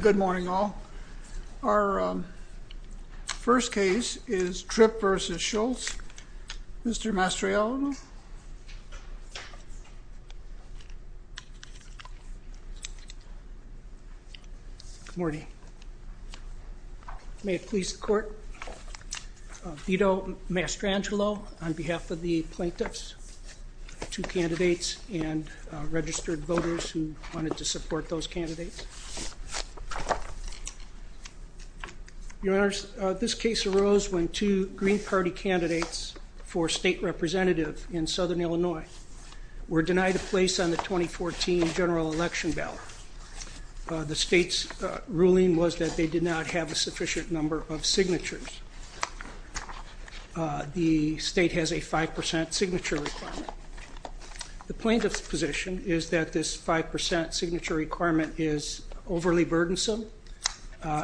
Good morning, all. Our first case is Tripp v. Scholz. Mr. Mastriallo? Good morning. May it please the Court, I veto Mastrangelo on behalf of the plaintiffs, two candidates, and registered voters who wanted to support those candidates. Your Honors, this case arose when two Green Party candidates for state representative in Southern Illinois were denied a place on the 2014 general election ballot. The state's ruling was that they did not have a sufficient number of signatures. The state has a 5% signature requirement. The plaintiff's position is that this 5% signature requirement is overly burdensome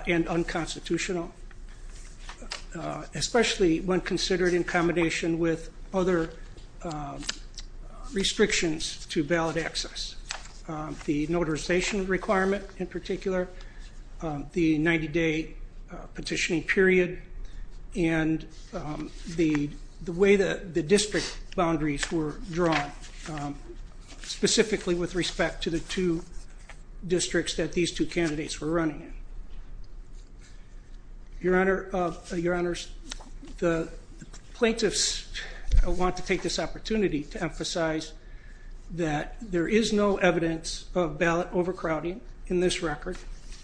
and unconstitutional, especially when considered in combination with other restrictions to ballot access. The 90-day petitioning period and the way that the district boundaries were drawn, specifically with respect to the two districts that these two candidates were running in. Your Honors, the plaintiffs want to take this opportunity to emphasize that there is no evidence of ballot overcrowding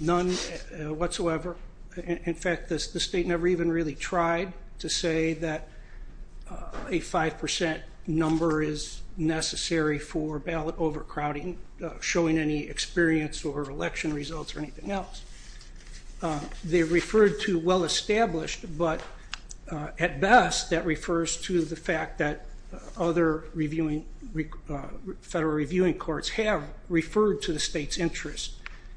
whatsoever. In fact, the state never even really tried to say that a 5% number is necessary for ballot overcrowding, showing any experience or election results or anything else. They referred to well-established, but at best that refers to the fact that other federal reviewing courts have referred to the state's interest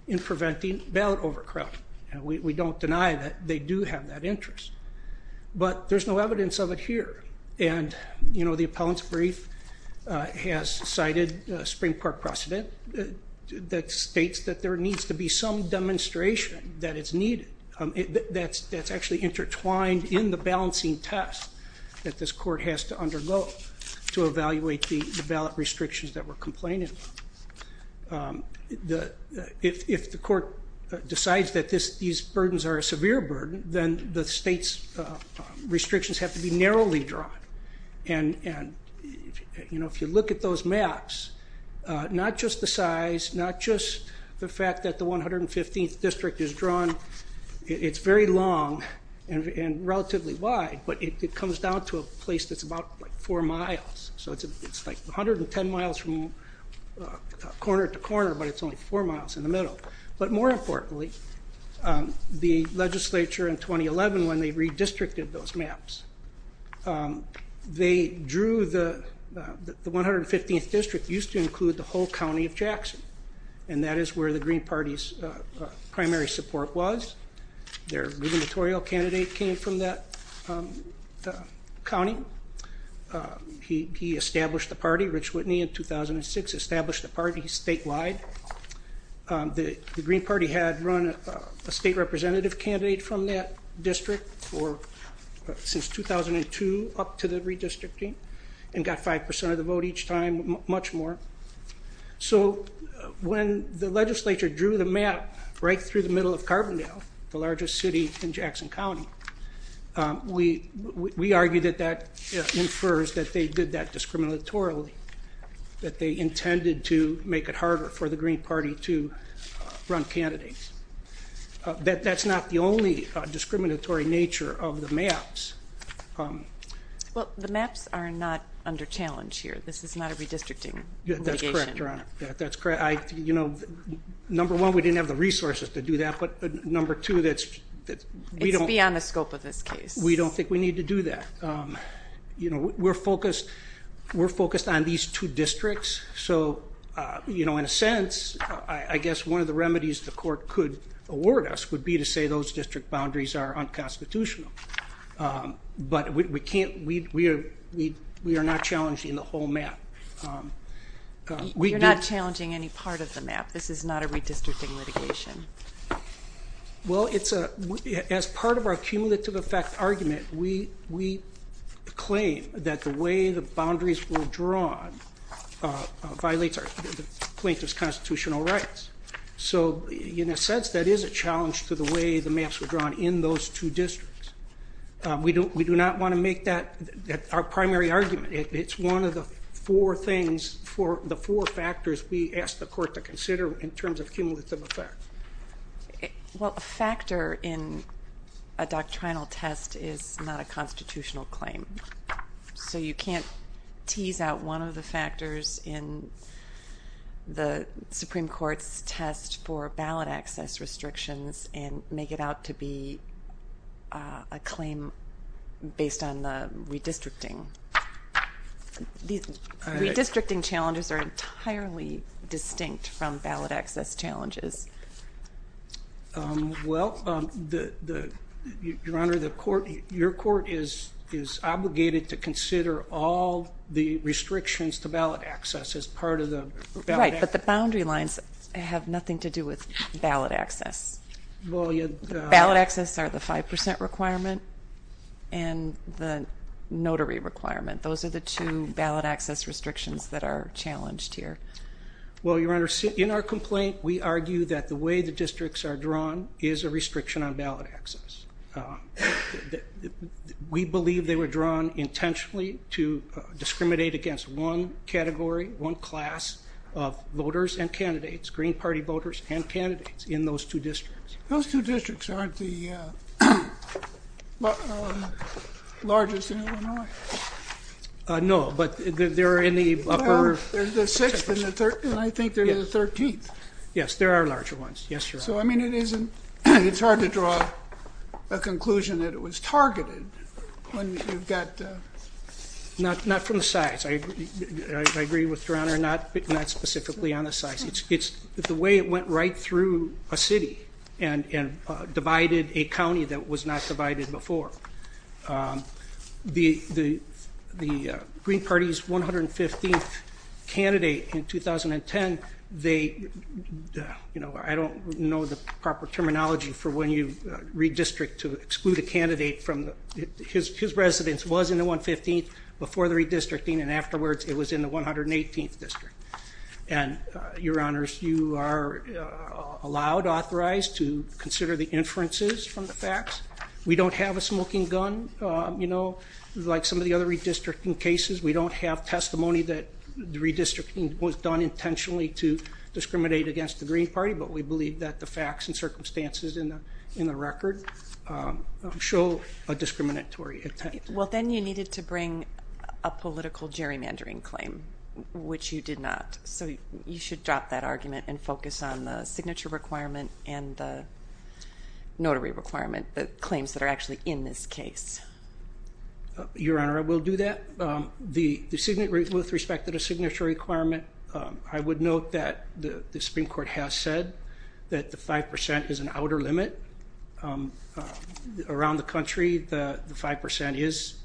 in preventing ballot overcrowding. We don't deny that they do have that interest, but there's no evidence of it here. And you know, the appellant's brief has cited a Supreme Court precedent that states that there needs to be some demonstration that it's needed. That's actually intertwined in the balancing test that this court has to do. If the court decides that these burdens are a severe burden, then the state's restrictions have to be narrowly drawn. And if you look at those maps, not just the size, not just the fact that the 115th district is drawn, it's very long and relatively wide, but it comes down to a place that's about four miles. So it's like 110 miles from corner to corner, but it's only four miles in the middle. But more importantly, the legislature in 2011, when they redistricted those maps, they drew the 115th district used to include the whole county of Jackson. And that is where the Green candidate came from that county. He established the party, Rich Whitney, in 2006, established the party statewide. The Green party had run a state representative candidate from that district since 2002 up to the redistricting and got 5% of the vote each time, much more. So when the county, we argue that that infers that they did that discriminatorily, that they intended to make it harder for the Green party to run candidates. That's not the only discriminatory nature of the maps. Well, the maps are not under challenge here. This is not a redistricting. Yeah, that's correct. You're on it. That's correct. You know, number one, we didn't have the resources to do that. But number two, that's beyond the scope of this case. We don't think we need to do that. You know, we're focused. We're focused on these two districts. So, you know, in a sense, I guess one of the remedies the court could award us would be to say those district boundaries are unconstitutional. But we can't, we are not challenging the whole map. We're not challenging any part of the map. This is not a redistricting litigation. Well, it's a, as part of our cumulative effect argument, we claim that the way the boundaries were drawn violates our plaintiff's constitutional rights. So in a sense, that is a challenge to the way the maps were drawn in those two districts. We do not want to make that our primary argument. It's one of the four things, the four factors we ask the court to consider in terms of cumulative effect. Well, a factor in a doctrinal test is not a constitutional claim. So you can't tease out one of the factors in the Supreme Court's test for ballot access restrictions and make it out to be a claim based on the redistricting. These redistricting challenges are entirely distinct from ballot access challenges. Well, Your Honor, the court, your court is obligated to consider all the restrictions to ballot access as part of the... Right, but the boundary lines have nothing to do with ballot access. Well, you... Ballot access are the 5% requirement and the notary requirement. Those are the two ballot access restrictions that are challenged here. Well, Your Honor, in our complaint, we argue that the way the districts are drawn is a restriction on ballot access. We believe they were drawn intentionally to discriminate against one category, one class of voters and candidates, Green Party voters and candidates in those two districts. Those two districts aren't the largest in Illinois. No, but they're in the upper... There's the 6th and I think there's the 13th. Yes, there are larger ones. Yes, Your Honor. So, I mean, it isn't... It's hard to draw a conclusion that it was targeted when you've got... Not from the size. I agree with Your Honor, not specifically on the size. It's the way it went right through a city and divided a county that was not divided before. The Green Party's 115th candidate in 2010, they... You know, I don't know the proper terminology for when you redistrict to exclude a candidate from... His residence was in the 115th before the redistricting and afterwards it was in the 118th district. And, Your Honors, you are allowed, authorized to consider the inferences from the facts. We don't have a smoking gun, you know, like some of the other redistricting cases. We don't have testimony that the redistricting was done intentionally to discriminate against the Green Party, but we believe that the facts and circumstances in the record show a discriminatory intent. Well, then you needed to bring a political gerrymandering claim, which you did not. So, you should drop that argument and focus on the signature requirement and the notary requirement, the claims that are actually in this case. Your Honor, I will do that. The signature... With respect to the signature requirement, I would note that the Supreme Court has said that the 5% is an outer limit. Around the country, the 5% is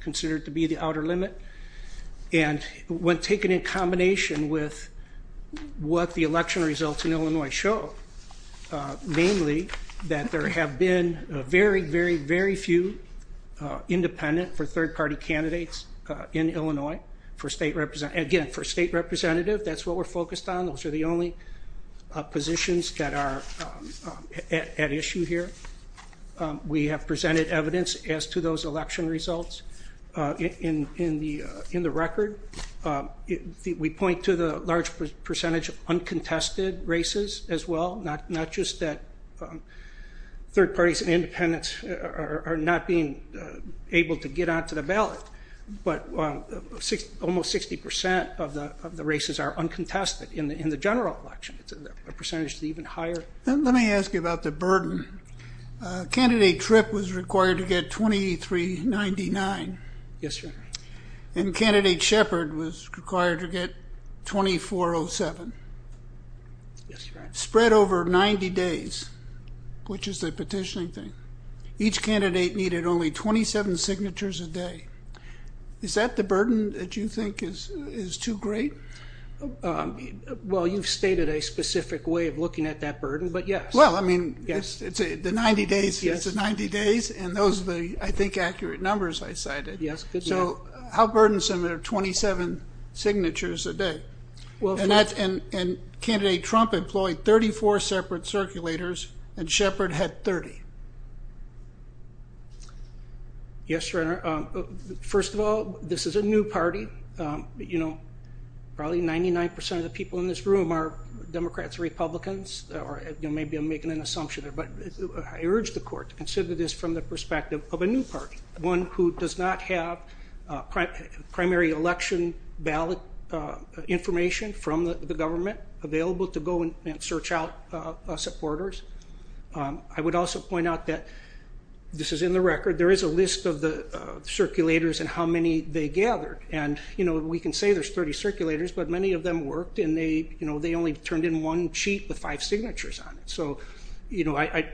considered to be the outer limit. And when taken in combination with what the election results in Illinois show, namely that there have been very, very, very few independent for third-party candidates in Illinois for state represent... Again, for state representative, that's what we're focused on. Those are the only positions that are... At issue here. We have presented evidence as to those election results in the record. We point to the large percentage of uncontested races as well, not just that third parties and independents are not being able to get onto the ballot, but almost 60% of the races are uncontested in the general election. It's a percentage even higher. Let me ask you about the burden. Candidate Tripp was required to get $23.99. Yes, Your Honor. And Candidate Shepard was required to get $24.07. Yes, Your Honor. Spread over 90 days, which is the petitioning thing. Each candidate needed only 27 signatures a day. Is that the burden that you think is too great? Well, you've stated a specific way of looking at that burden, but yes. Well, I mean, it's the 90 days, and those are the, I think, accurate numbers I cited. Yes, good. So how burdensome are 27 signatures a day? And Candidate Trump employed 34 separate circulators, and Shepard had 30. Yes, Your Honor. First of all, this is a new party. You know, probably 99% of the people in this room are Democrats, Republicans, or maybe I'm making an assumption, but I urge the court to consider this from the perspective of a new party, one who does not have primary election ballot information from the government available to go and search out supporters. I would also point out that this is in the record. There is a list of the circulators and how many they gathered, and we can say there's 30 circulators, but many of them worked, and they only turned in one sheet with five signatures on it. So, you know, I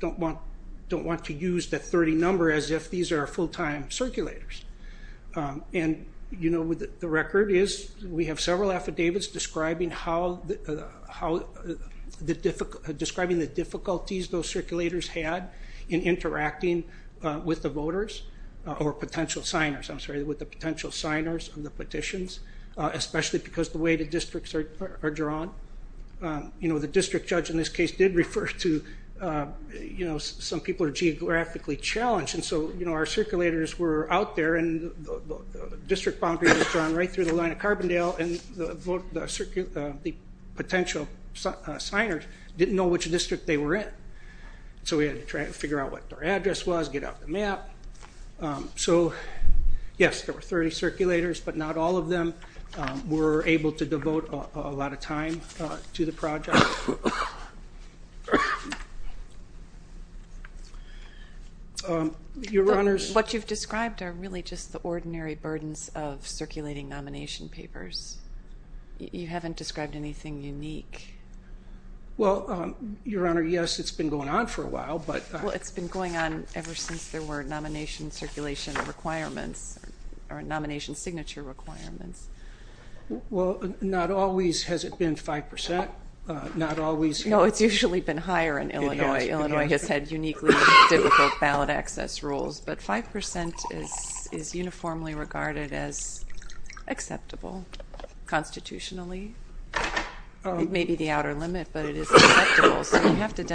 don't want to use that 30 number as if these are full-time circulators. And, you know, the record is we have several affidavits describing the difficulties those circulators had in interacting with the voters, or potential signers, I'm sorry, with the potential signers of the petitions, especially because the way the districts are drawn. You know, the district judge in this case did refer to, you know, some people are geographically challenged, and so, you know, our circulators were out there, and the district boundary was drawn right through the line of Carbondale, and the potential signers didn't know which district they were in. So we had to try to figure out what their address was, get out the map. So, yes, there were 30 circulators, but not all of them were able to devote a lot of time to the project. What you've described are really just the ordinary burdens of circulating nomination papers. You haven't described anything unique. Well, Your Honor, yes, it's been going on for a while, but... Well, it's been going on ever since there were nomination circulation requirements, or nomination signature requirements. Well, not always has it been 5%. Not always... So you have to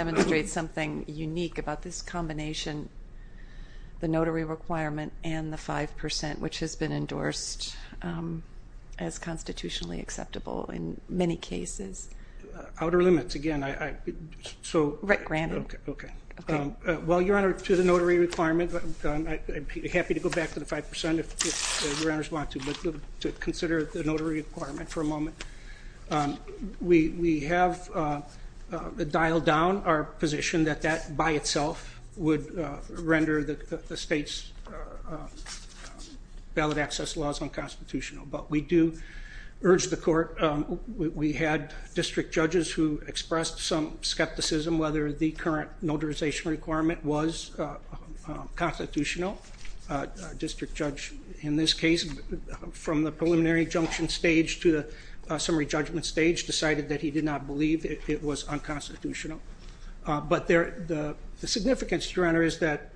demonstrate something unique about this combination, the notary requirement and the 5%, which has been endorsed as constitutionally acceptable in many cases. Outer limits. Again, I... Right, granted. Okay. Well, Your Honor, to the notary requirement, I'm happy to go back to the 5% if Your Honors want to, but to consider the notary requirement for a moment. We have dialed down our position that that by itself would render the state's ballot access laws unconstitutional, but we do urge the court... We had district judges who expressed some skepticism whether the current notarization requirement was constitutional. A district judge in this case, from the preliminary junction stage to the summary judgment stage, decided that he did not believe it was unconstitutional. But the significance, Your Honor, is that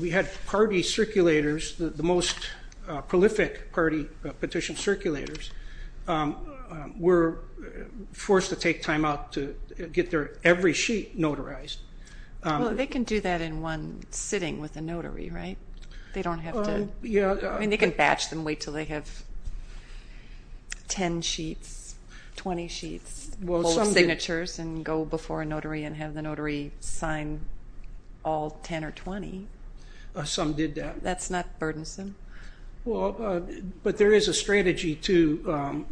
we had party circulators, the most prolific party petition circulators, were forced to take time out to get their every sheet notarized. Well, they can do that in one sitting with a notary, right? They don't have to... Yeah. I mean, they can batch them, wait until they have 10 sheets, 20 sheets, hold signatures and go before a notary and have the notary sign all 10 or 20. Some did that. That's not burdensome? Well, but there is a strategy to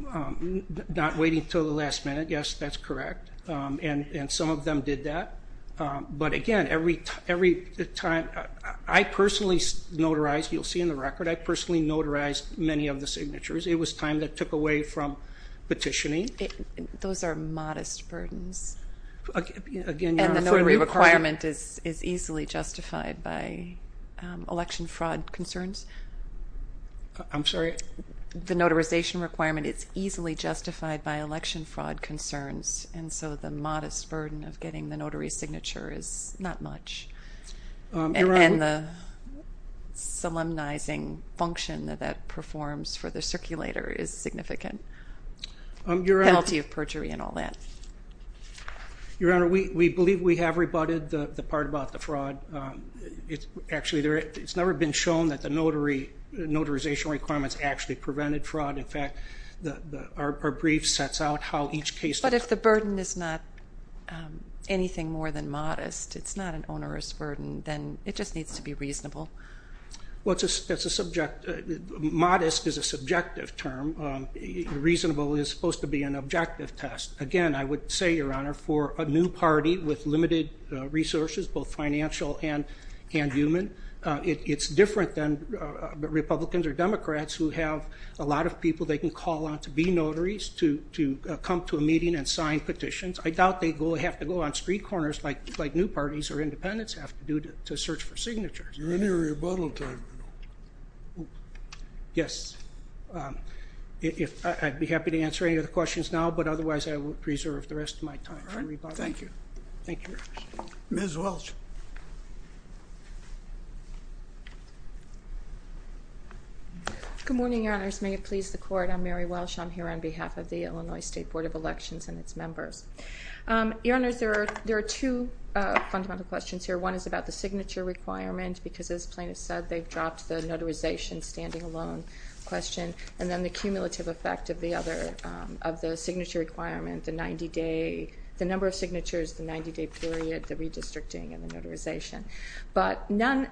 not waiting until the last minute. Yes, that's correct. And some of them did that. But again, every time... I personally notarized, you'll see in the record, I personally notarized many of the signatures. It was time that took away from petitioning. Those are modest burdens. Again, Your Honor... The notary requirement is easily justified by election fraud concerns. I'm sorry? The notarization requirement is easily justified by election fraud concerns. And so the modest burden of getting the notary signature is not much. And the solemnizing function that that performs for the circulator is significant. Penalty of perjury and all that. Your Honor, we believe we have rebutted the part about the fraud. Actually, it's never been shown that the notarization requirements actually prevented fraud. In fact, our brief sets out how each case... But if the burden is not anything more than modest, it's not an onerous burden, then it just needs to be reasonable. Well, modest is a subjective term. Reasonable is supposed to be an objective test. Again, I would say, Your Honor, for a new party with limited resources, both financial and human, it's different than Republicans or Democrats who have a lot of people they can call on to be notaries, to come to a meeting and sign petitions. I doubt they have to go on street corners like new parties or independents have to do to search for signatures. You're in the rebuttal time. Yes. I'd be happy to answer any other questions now, but otherwise I will preserve the rest of my time for rebuttal. All right. Thank you. Thank you, Your Honor. Ms. Welch. Good morning, Your Honors. May it please the Court, I'm Mary Welch. I'm here on behalf of the Illinois State Board of Elections and its members. Your Honors, there are two fundamental questions here. One is about the signature requirement because, as plaintiffs said, they've dropped the notarization standing alone question, and then the cumulative effect of the signature requirement, the number of signatures, the 90-day period, the redistricting, and the notarization. But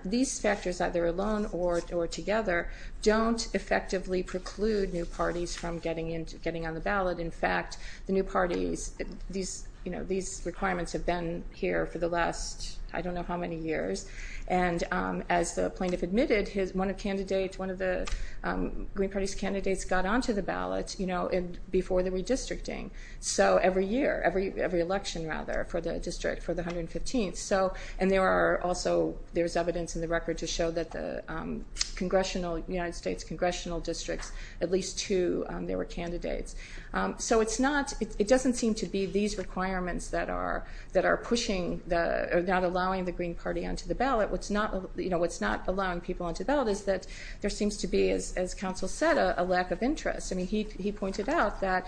these factors, either alone or together, don't effectively preclude new parties from getting on the ballot. In fact, the new parties, these requirements have been here for the last I don't know how many years. And as the plaintiff admitted, one of the Green Party's candidates got onto the ballot before the redistricting. So every year, every election, rather, for the district, for the 115th. And there are also, there's evidence in the record to show that the congressional, United States congressional districts, at least two, there were candidates. So it's not, it doesn't seem to be these requirements that are pushing, not allowing the Green Party onto the ballot. What's not allowing people onto the ballot is that there seems to be, as counsel said, a lack of interest. I mean, he pointed out that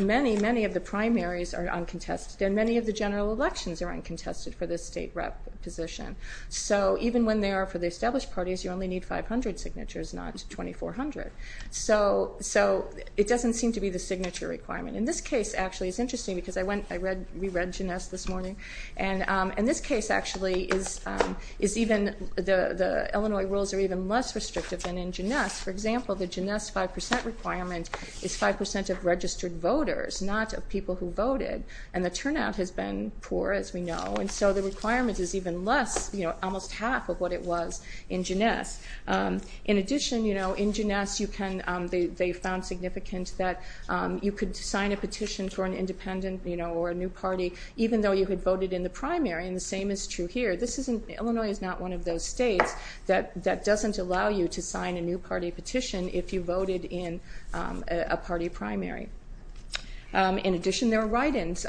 many, many of the primaries are uncontested, and many of the general elections are uncontested for the state rep position. So even when they are for the established parties, you only need 500 signatures, not 2,400. So it doesn't seem to be the signature requirement. In this case, actually, it's interesting, because I went, I read, we read Jeunesse this morning. And this case actually is even, the Illinois rules are even less restrictive than in Jeunesse. For example, the Jeunesse 5% requirement is 5% of registered voters, not of people who voted. And the turnout has been poor, as we know. And so the requirement is even less, you know, almost half of what it was in Jeunesse. In addition, you know, in Jeunesse, you can, they found significant that you could sign a petition for an independent, you know, or a new party, even though you had voted in the primary. And the same is true here. This isn't, Illinois is not one of those states that doesn't allow you to sign a new party petition if you voted in a party primary. In addition, there are write-ins.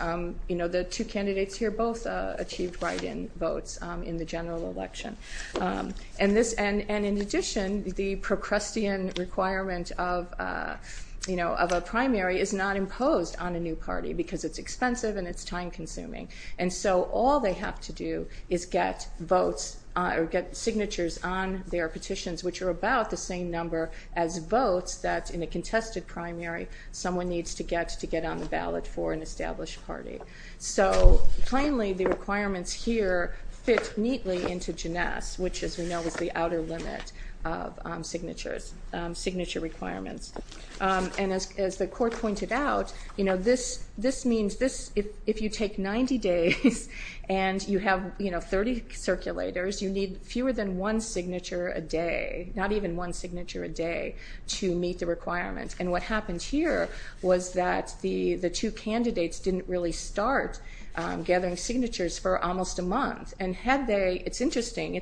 You know, the two candidates here both achieved write-in votes in the general election. And this, and in addition, the Procrustean requirement of, you know, of a primary is not imposed on a new party, because it's expensive and it's time consuming. And so all they have to do is get votes or get signatures on their petitions, which are about the same number as votes that, in a contested primary, someone needs to get to get on the ballot for an established party. So finally, the requirements here fit neatly into Jeunesse, which, as we know, is the outer limit of signatures, signature requirements. And as the court pointed out, you know, this means this, if you take 90 days and you have, you know, 30 circulators, you need fewer than one signature a day, not even one signature a day, to meet the requirements. And what happened here was that the two candidates didn't really start gathering signatures for almost a month. And had they, it's interesting,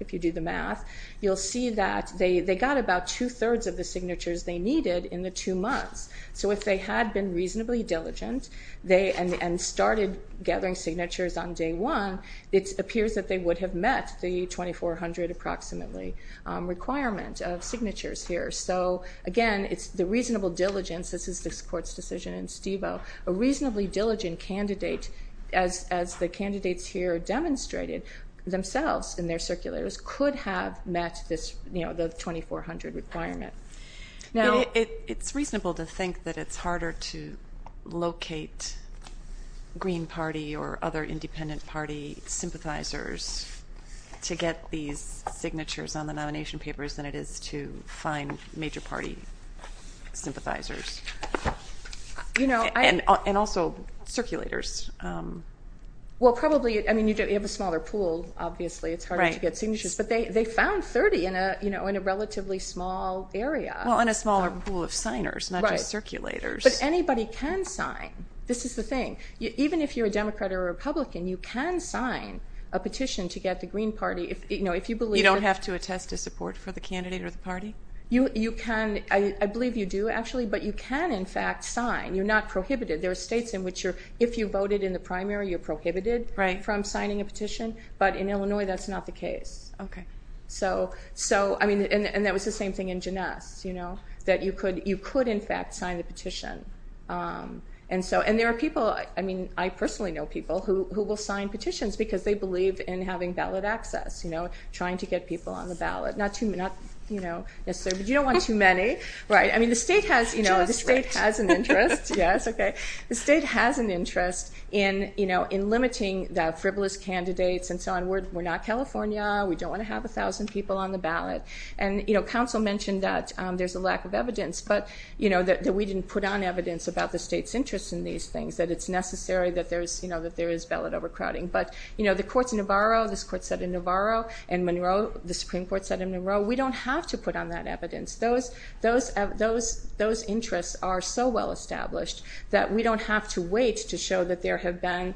if you do the math, you'll see that they got about two-thirds of the signatures they needed in the two months. So if they had been reasonably diligent and started gathering signatures on day one, it appears that they would have met the 2400 approximately requirement of signatures here. So, again, it's the reasonable diligence, this is this court's decision in Stevo, a reasonably diligent candidate, as the candidates here demonstrated themselves in their circulators, could have met this, you know, the 2400 requirement. It's reasonable to think that it's harder to locate Green Party or other independent party sympathizers to get these signatures on the nomination papers than it is to find major party sympathizers. And also circulators. Well, probably, I mean, you have a smaller pool, obviously, it's harder to get signatures, but they found 30 in a, you know, in a relatively small area. Well, in a smaller pool of signers, not just circulators. But anybody can sign, this is the thing. Even if you're a Democrat or a Republican, you can sign a petition to get the Green Party, you know, if you believe that... You don't have to attest to support for the candidate or the party? You can, I believe you do, actually, but you can, in fact, sign. You're not prohibited. There are states in which you're, if you voted in the primary, you're prohibited from signing a petition, but in Illinois, that's not the case. Okay. So, I mean, and that was the same thing in Jeunesse, you know, that you could, in fact, sign the petition. And so, and there are people, I mean, I personally know people who will sign petitions because they believe in having ballot access, you know, trying to get people on the ballot. Not, you know, necessarily, but you don't want too many, right? I mean, the state has, you know, the state has an interest. Yes, okay. The state has an interest in, you know, in limiting the frivolous candidates and so on. We're not California. We don't want to have 1,000 people on the ballot. And, you know, counsel mentioned that there's a lack of evidence, but, you know, that we didn't put on evidence about the state's interest in these things, that it's necessary that there is, you know, that there is ballot overcrowding. But, you know, the courts in Navarro, this court said in Navarro, and Monroe, the Supreme Court said in Monroe, we don't have to put on that evidence. Those interests are so well established that we don't have to wait to show that there have been,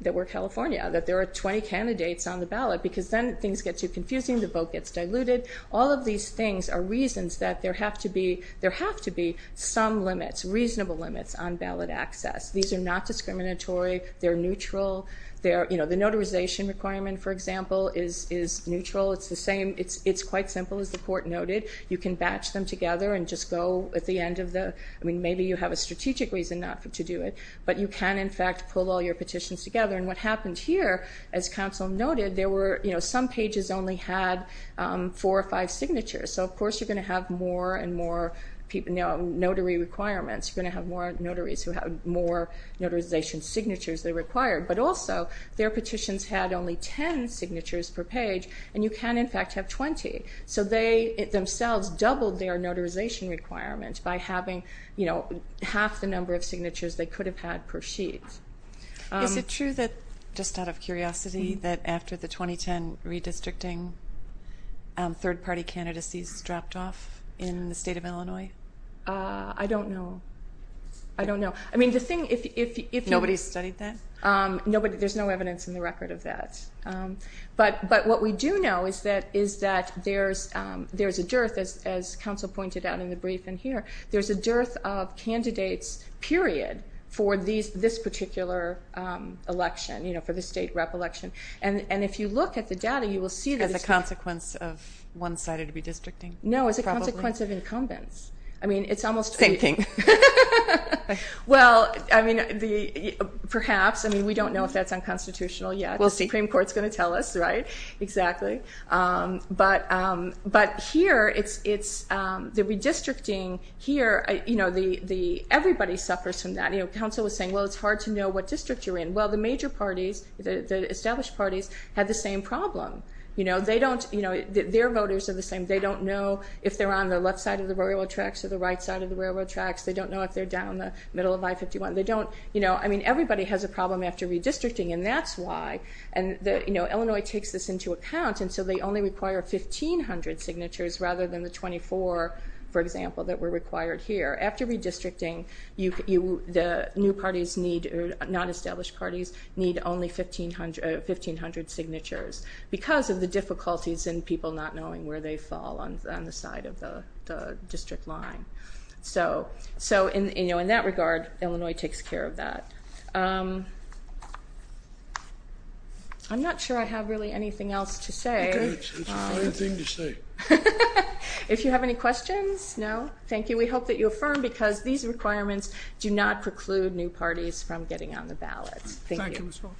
that we're California, that there are 20 candidates on the ballot because then things get too confusing, the vote gets diluted. All of these things are reasons that there have to be, there have to be some limits, reasonable limits on ballot access. These are not discriminatory. They're neutral. They're, you know, the notarization requirement, for example, is neutral. It's the same. It's quite simple, as the court noted. You can batch them together and just go at the end of the, I mean, maybe you have a strategic reason not to do it, but you can, in fact, pull all your petitions together. And what happened here, as counsel noted, there were, you know, some pages only had four or five signatures. So, of course, you're going to have more and more people, you know, notary requirements. You're going to have more notaries who have more notarization signatures they require. But also, their petitions had only 10 signatures per page, and you can, in fact, have 20. So they themselves doubled their notarization requirements by having, you know, half the number of signatures they could have had per sheet. Is it true that, just out of curiosity, that after the 2010 redistricting, third-party candidacies dropped off in the state of Illinois? I don't know. I don't know. I mean, the thing, if you... Nobody studied that? Nobody. There's no evidence in the record of that. But what we do know is that there's a dearth, as counsel pointed out in the brief in here, there's a dearth of candidates, period, for this particular election, you know, for the state rep election. And if you look at the data, you will see... As a consequence of one-sided redistricting? No, as a consequence of incumbents. I mean, it's almost... Thinking. Well, I mean, perhaps. I mean, we don't know if that's unconstitutional yet. We'll see. The Supreme Court's going to tell us, right? Exactly. But here, it's the redistricting here, you know, everybody suffers from that. You know, counsel was saying, well, it's hard to know what district you're in. Well, the major parties, the established parties, had the same problem. You know, they don't, you know, their voters are the same. They don't know if they're on the left side of the railroad tracks or the right side of the railroad tracks. They don't know if they're down the middle of I-51. They don't, you know, I mean, everybody has a problem after redistricting, and that's why. And, you know, Illinois takes this into account, and so they only require 1,500 signatures rather than the 24, for example, that were required here. After redistricting, the new parties need, or non-established parties, need only 1,500 signatures because of the difficulties in people not knowing where they fall on the side of the district line. So, you know, in that regard, Illinois takes care of that. I'm not sure I have really anything else to say. Okay. It's a fine thing to say. If you have any questions, no? Thank you. We hope that you affirm because these requirements do not preclude new parties from getting on the ballots. Thank you. Thank you, Mr. Walsh.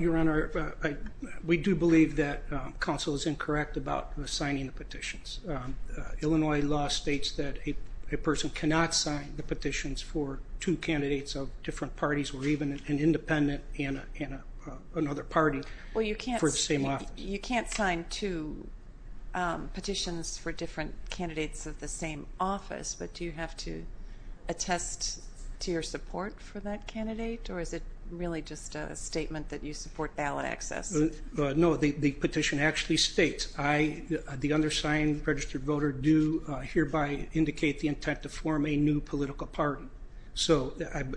Your Honor, we do believe that counsel is incorrect about signing the petitions. Illinois law states that a person cannot sign the petitions for two candidates of different parties or even an independent and another party for the same office. You can't sign two petitions for different candidates of the same office, but do you have to attest to your support for that candidate, or is it really just a statement that you support ballot access? No, the petition actually states, the undersigned registered voter do hereby indicate the intent to form a new political party. So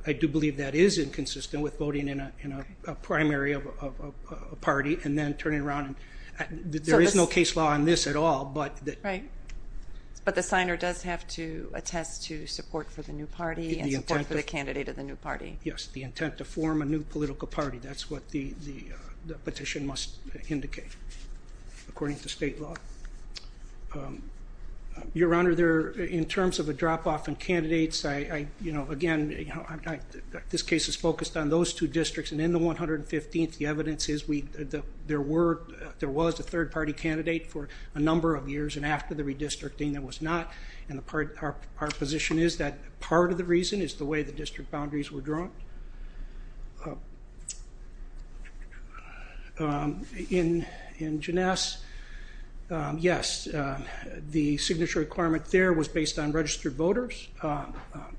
I do believe that is inconsistent with voting in a primary of a party and then turning around and there is no case law on this at all. Right. But the signer does have to attest to support for the new party and support for the candidate of the new party. Yes, the intent to form a new political party. That's what the petition must indicate according to state law. Your Honor, in terms of a drop off in candidates, again, this case is focused on those two districts and in the 115th, the evidence is there was a third party candidate for a number of years and after the redistricting there was not, and our position is that part of the reason is the way the district boundaries were drawn. In Jeunesse, yes, the signature requirement there was based on registered voters.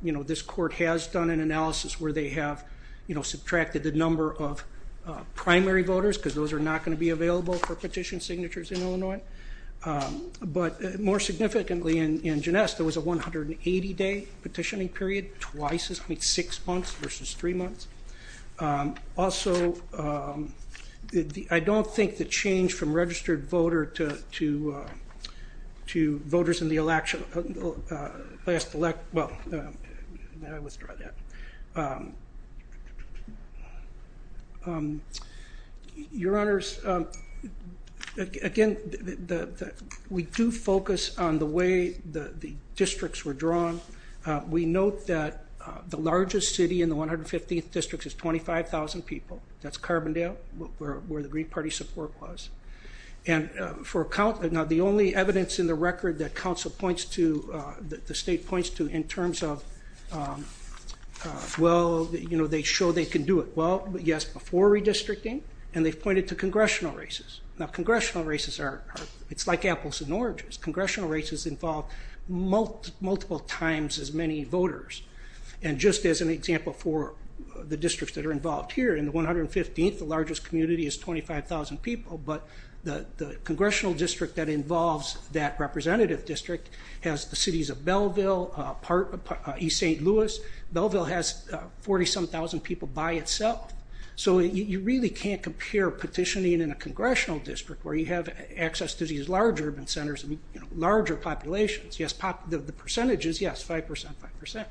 This court has done an analysis where they have subtracted the number of primary voters because those are not going to be available for petition signatures in Illinois. But more significantly in Jeunesse, there was a 180-day petitioning period, twice this week, six months versus three months. Also, I don't think the change from registered voter to voters in the last election, well, let me withdraw that. Your Honors, again, we do focus on the way the districts were drawn. We note that the largest city in the 115th district is 25,000 people. That's Carbondale, where the Green Party support was. And the only evidence in the record that the state points to in terms of, well, they show they can do it. Well, yes, before redistricting, and they've pointed to congressional races. Now, congressional races are, it's like apples and oranges. Congressional races involve multiple times as many voters. And just as an example for the districts that are involved here, in the 115th, the largest community is 25,000 people, but the congressional district that involves that representative district has the cities of Belleville, East St. Louis. Belleville has 40-some thousand people by itself. So you really can't compare petitioning in a congressional district, where you have access to these large urban centers and larger populations. Yes, the percentage is, yes, 5%, 5%.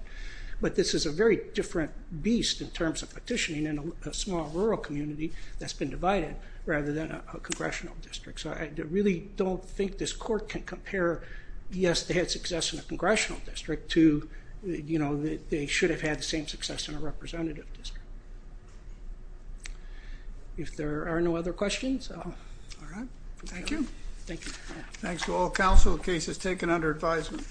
But this is a very different beast in terms of petitioning in a small rural community that's been divided rather than a congressional district. So I really don't think this court can compare, yes, they had success in a congressional district to, you know, they should have had the same success in a representative district. If there are no other questions. All right. Thank you. Thank you. Thanks to all counsel. The case is taken under advisement.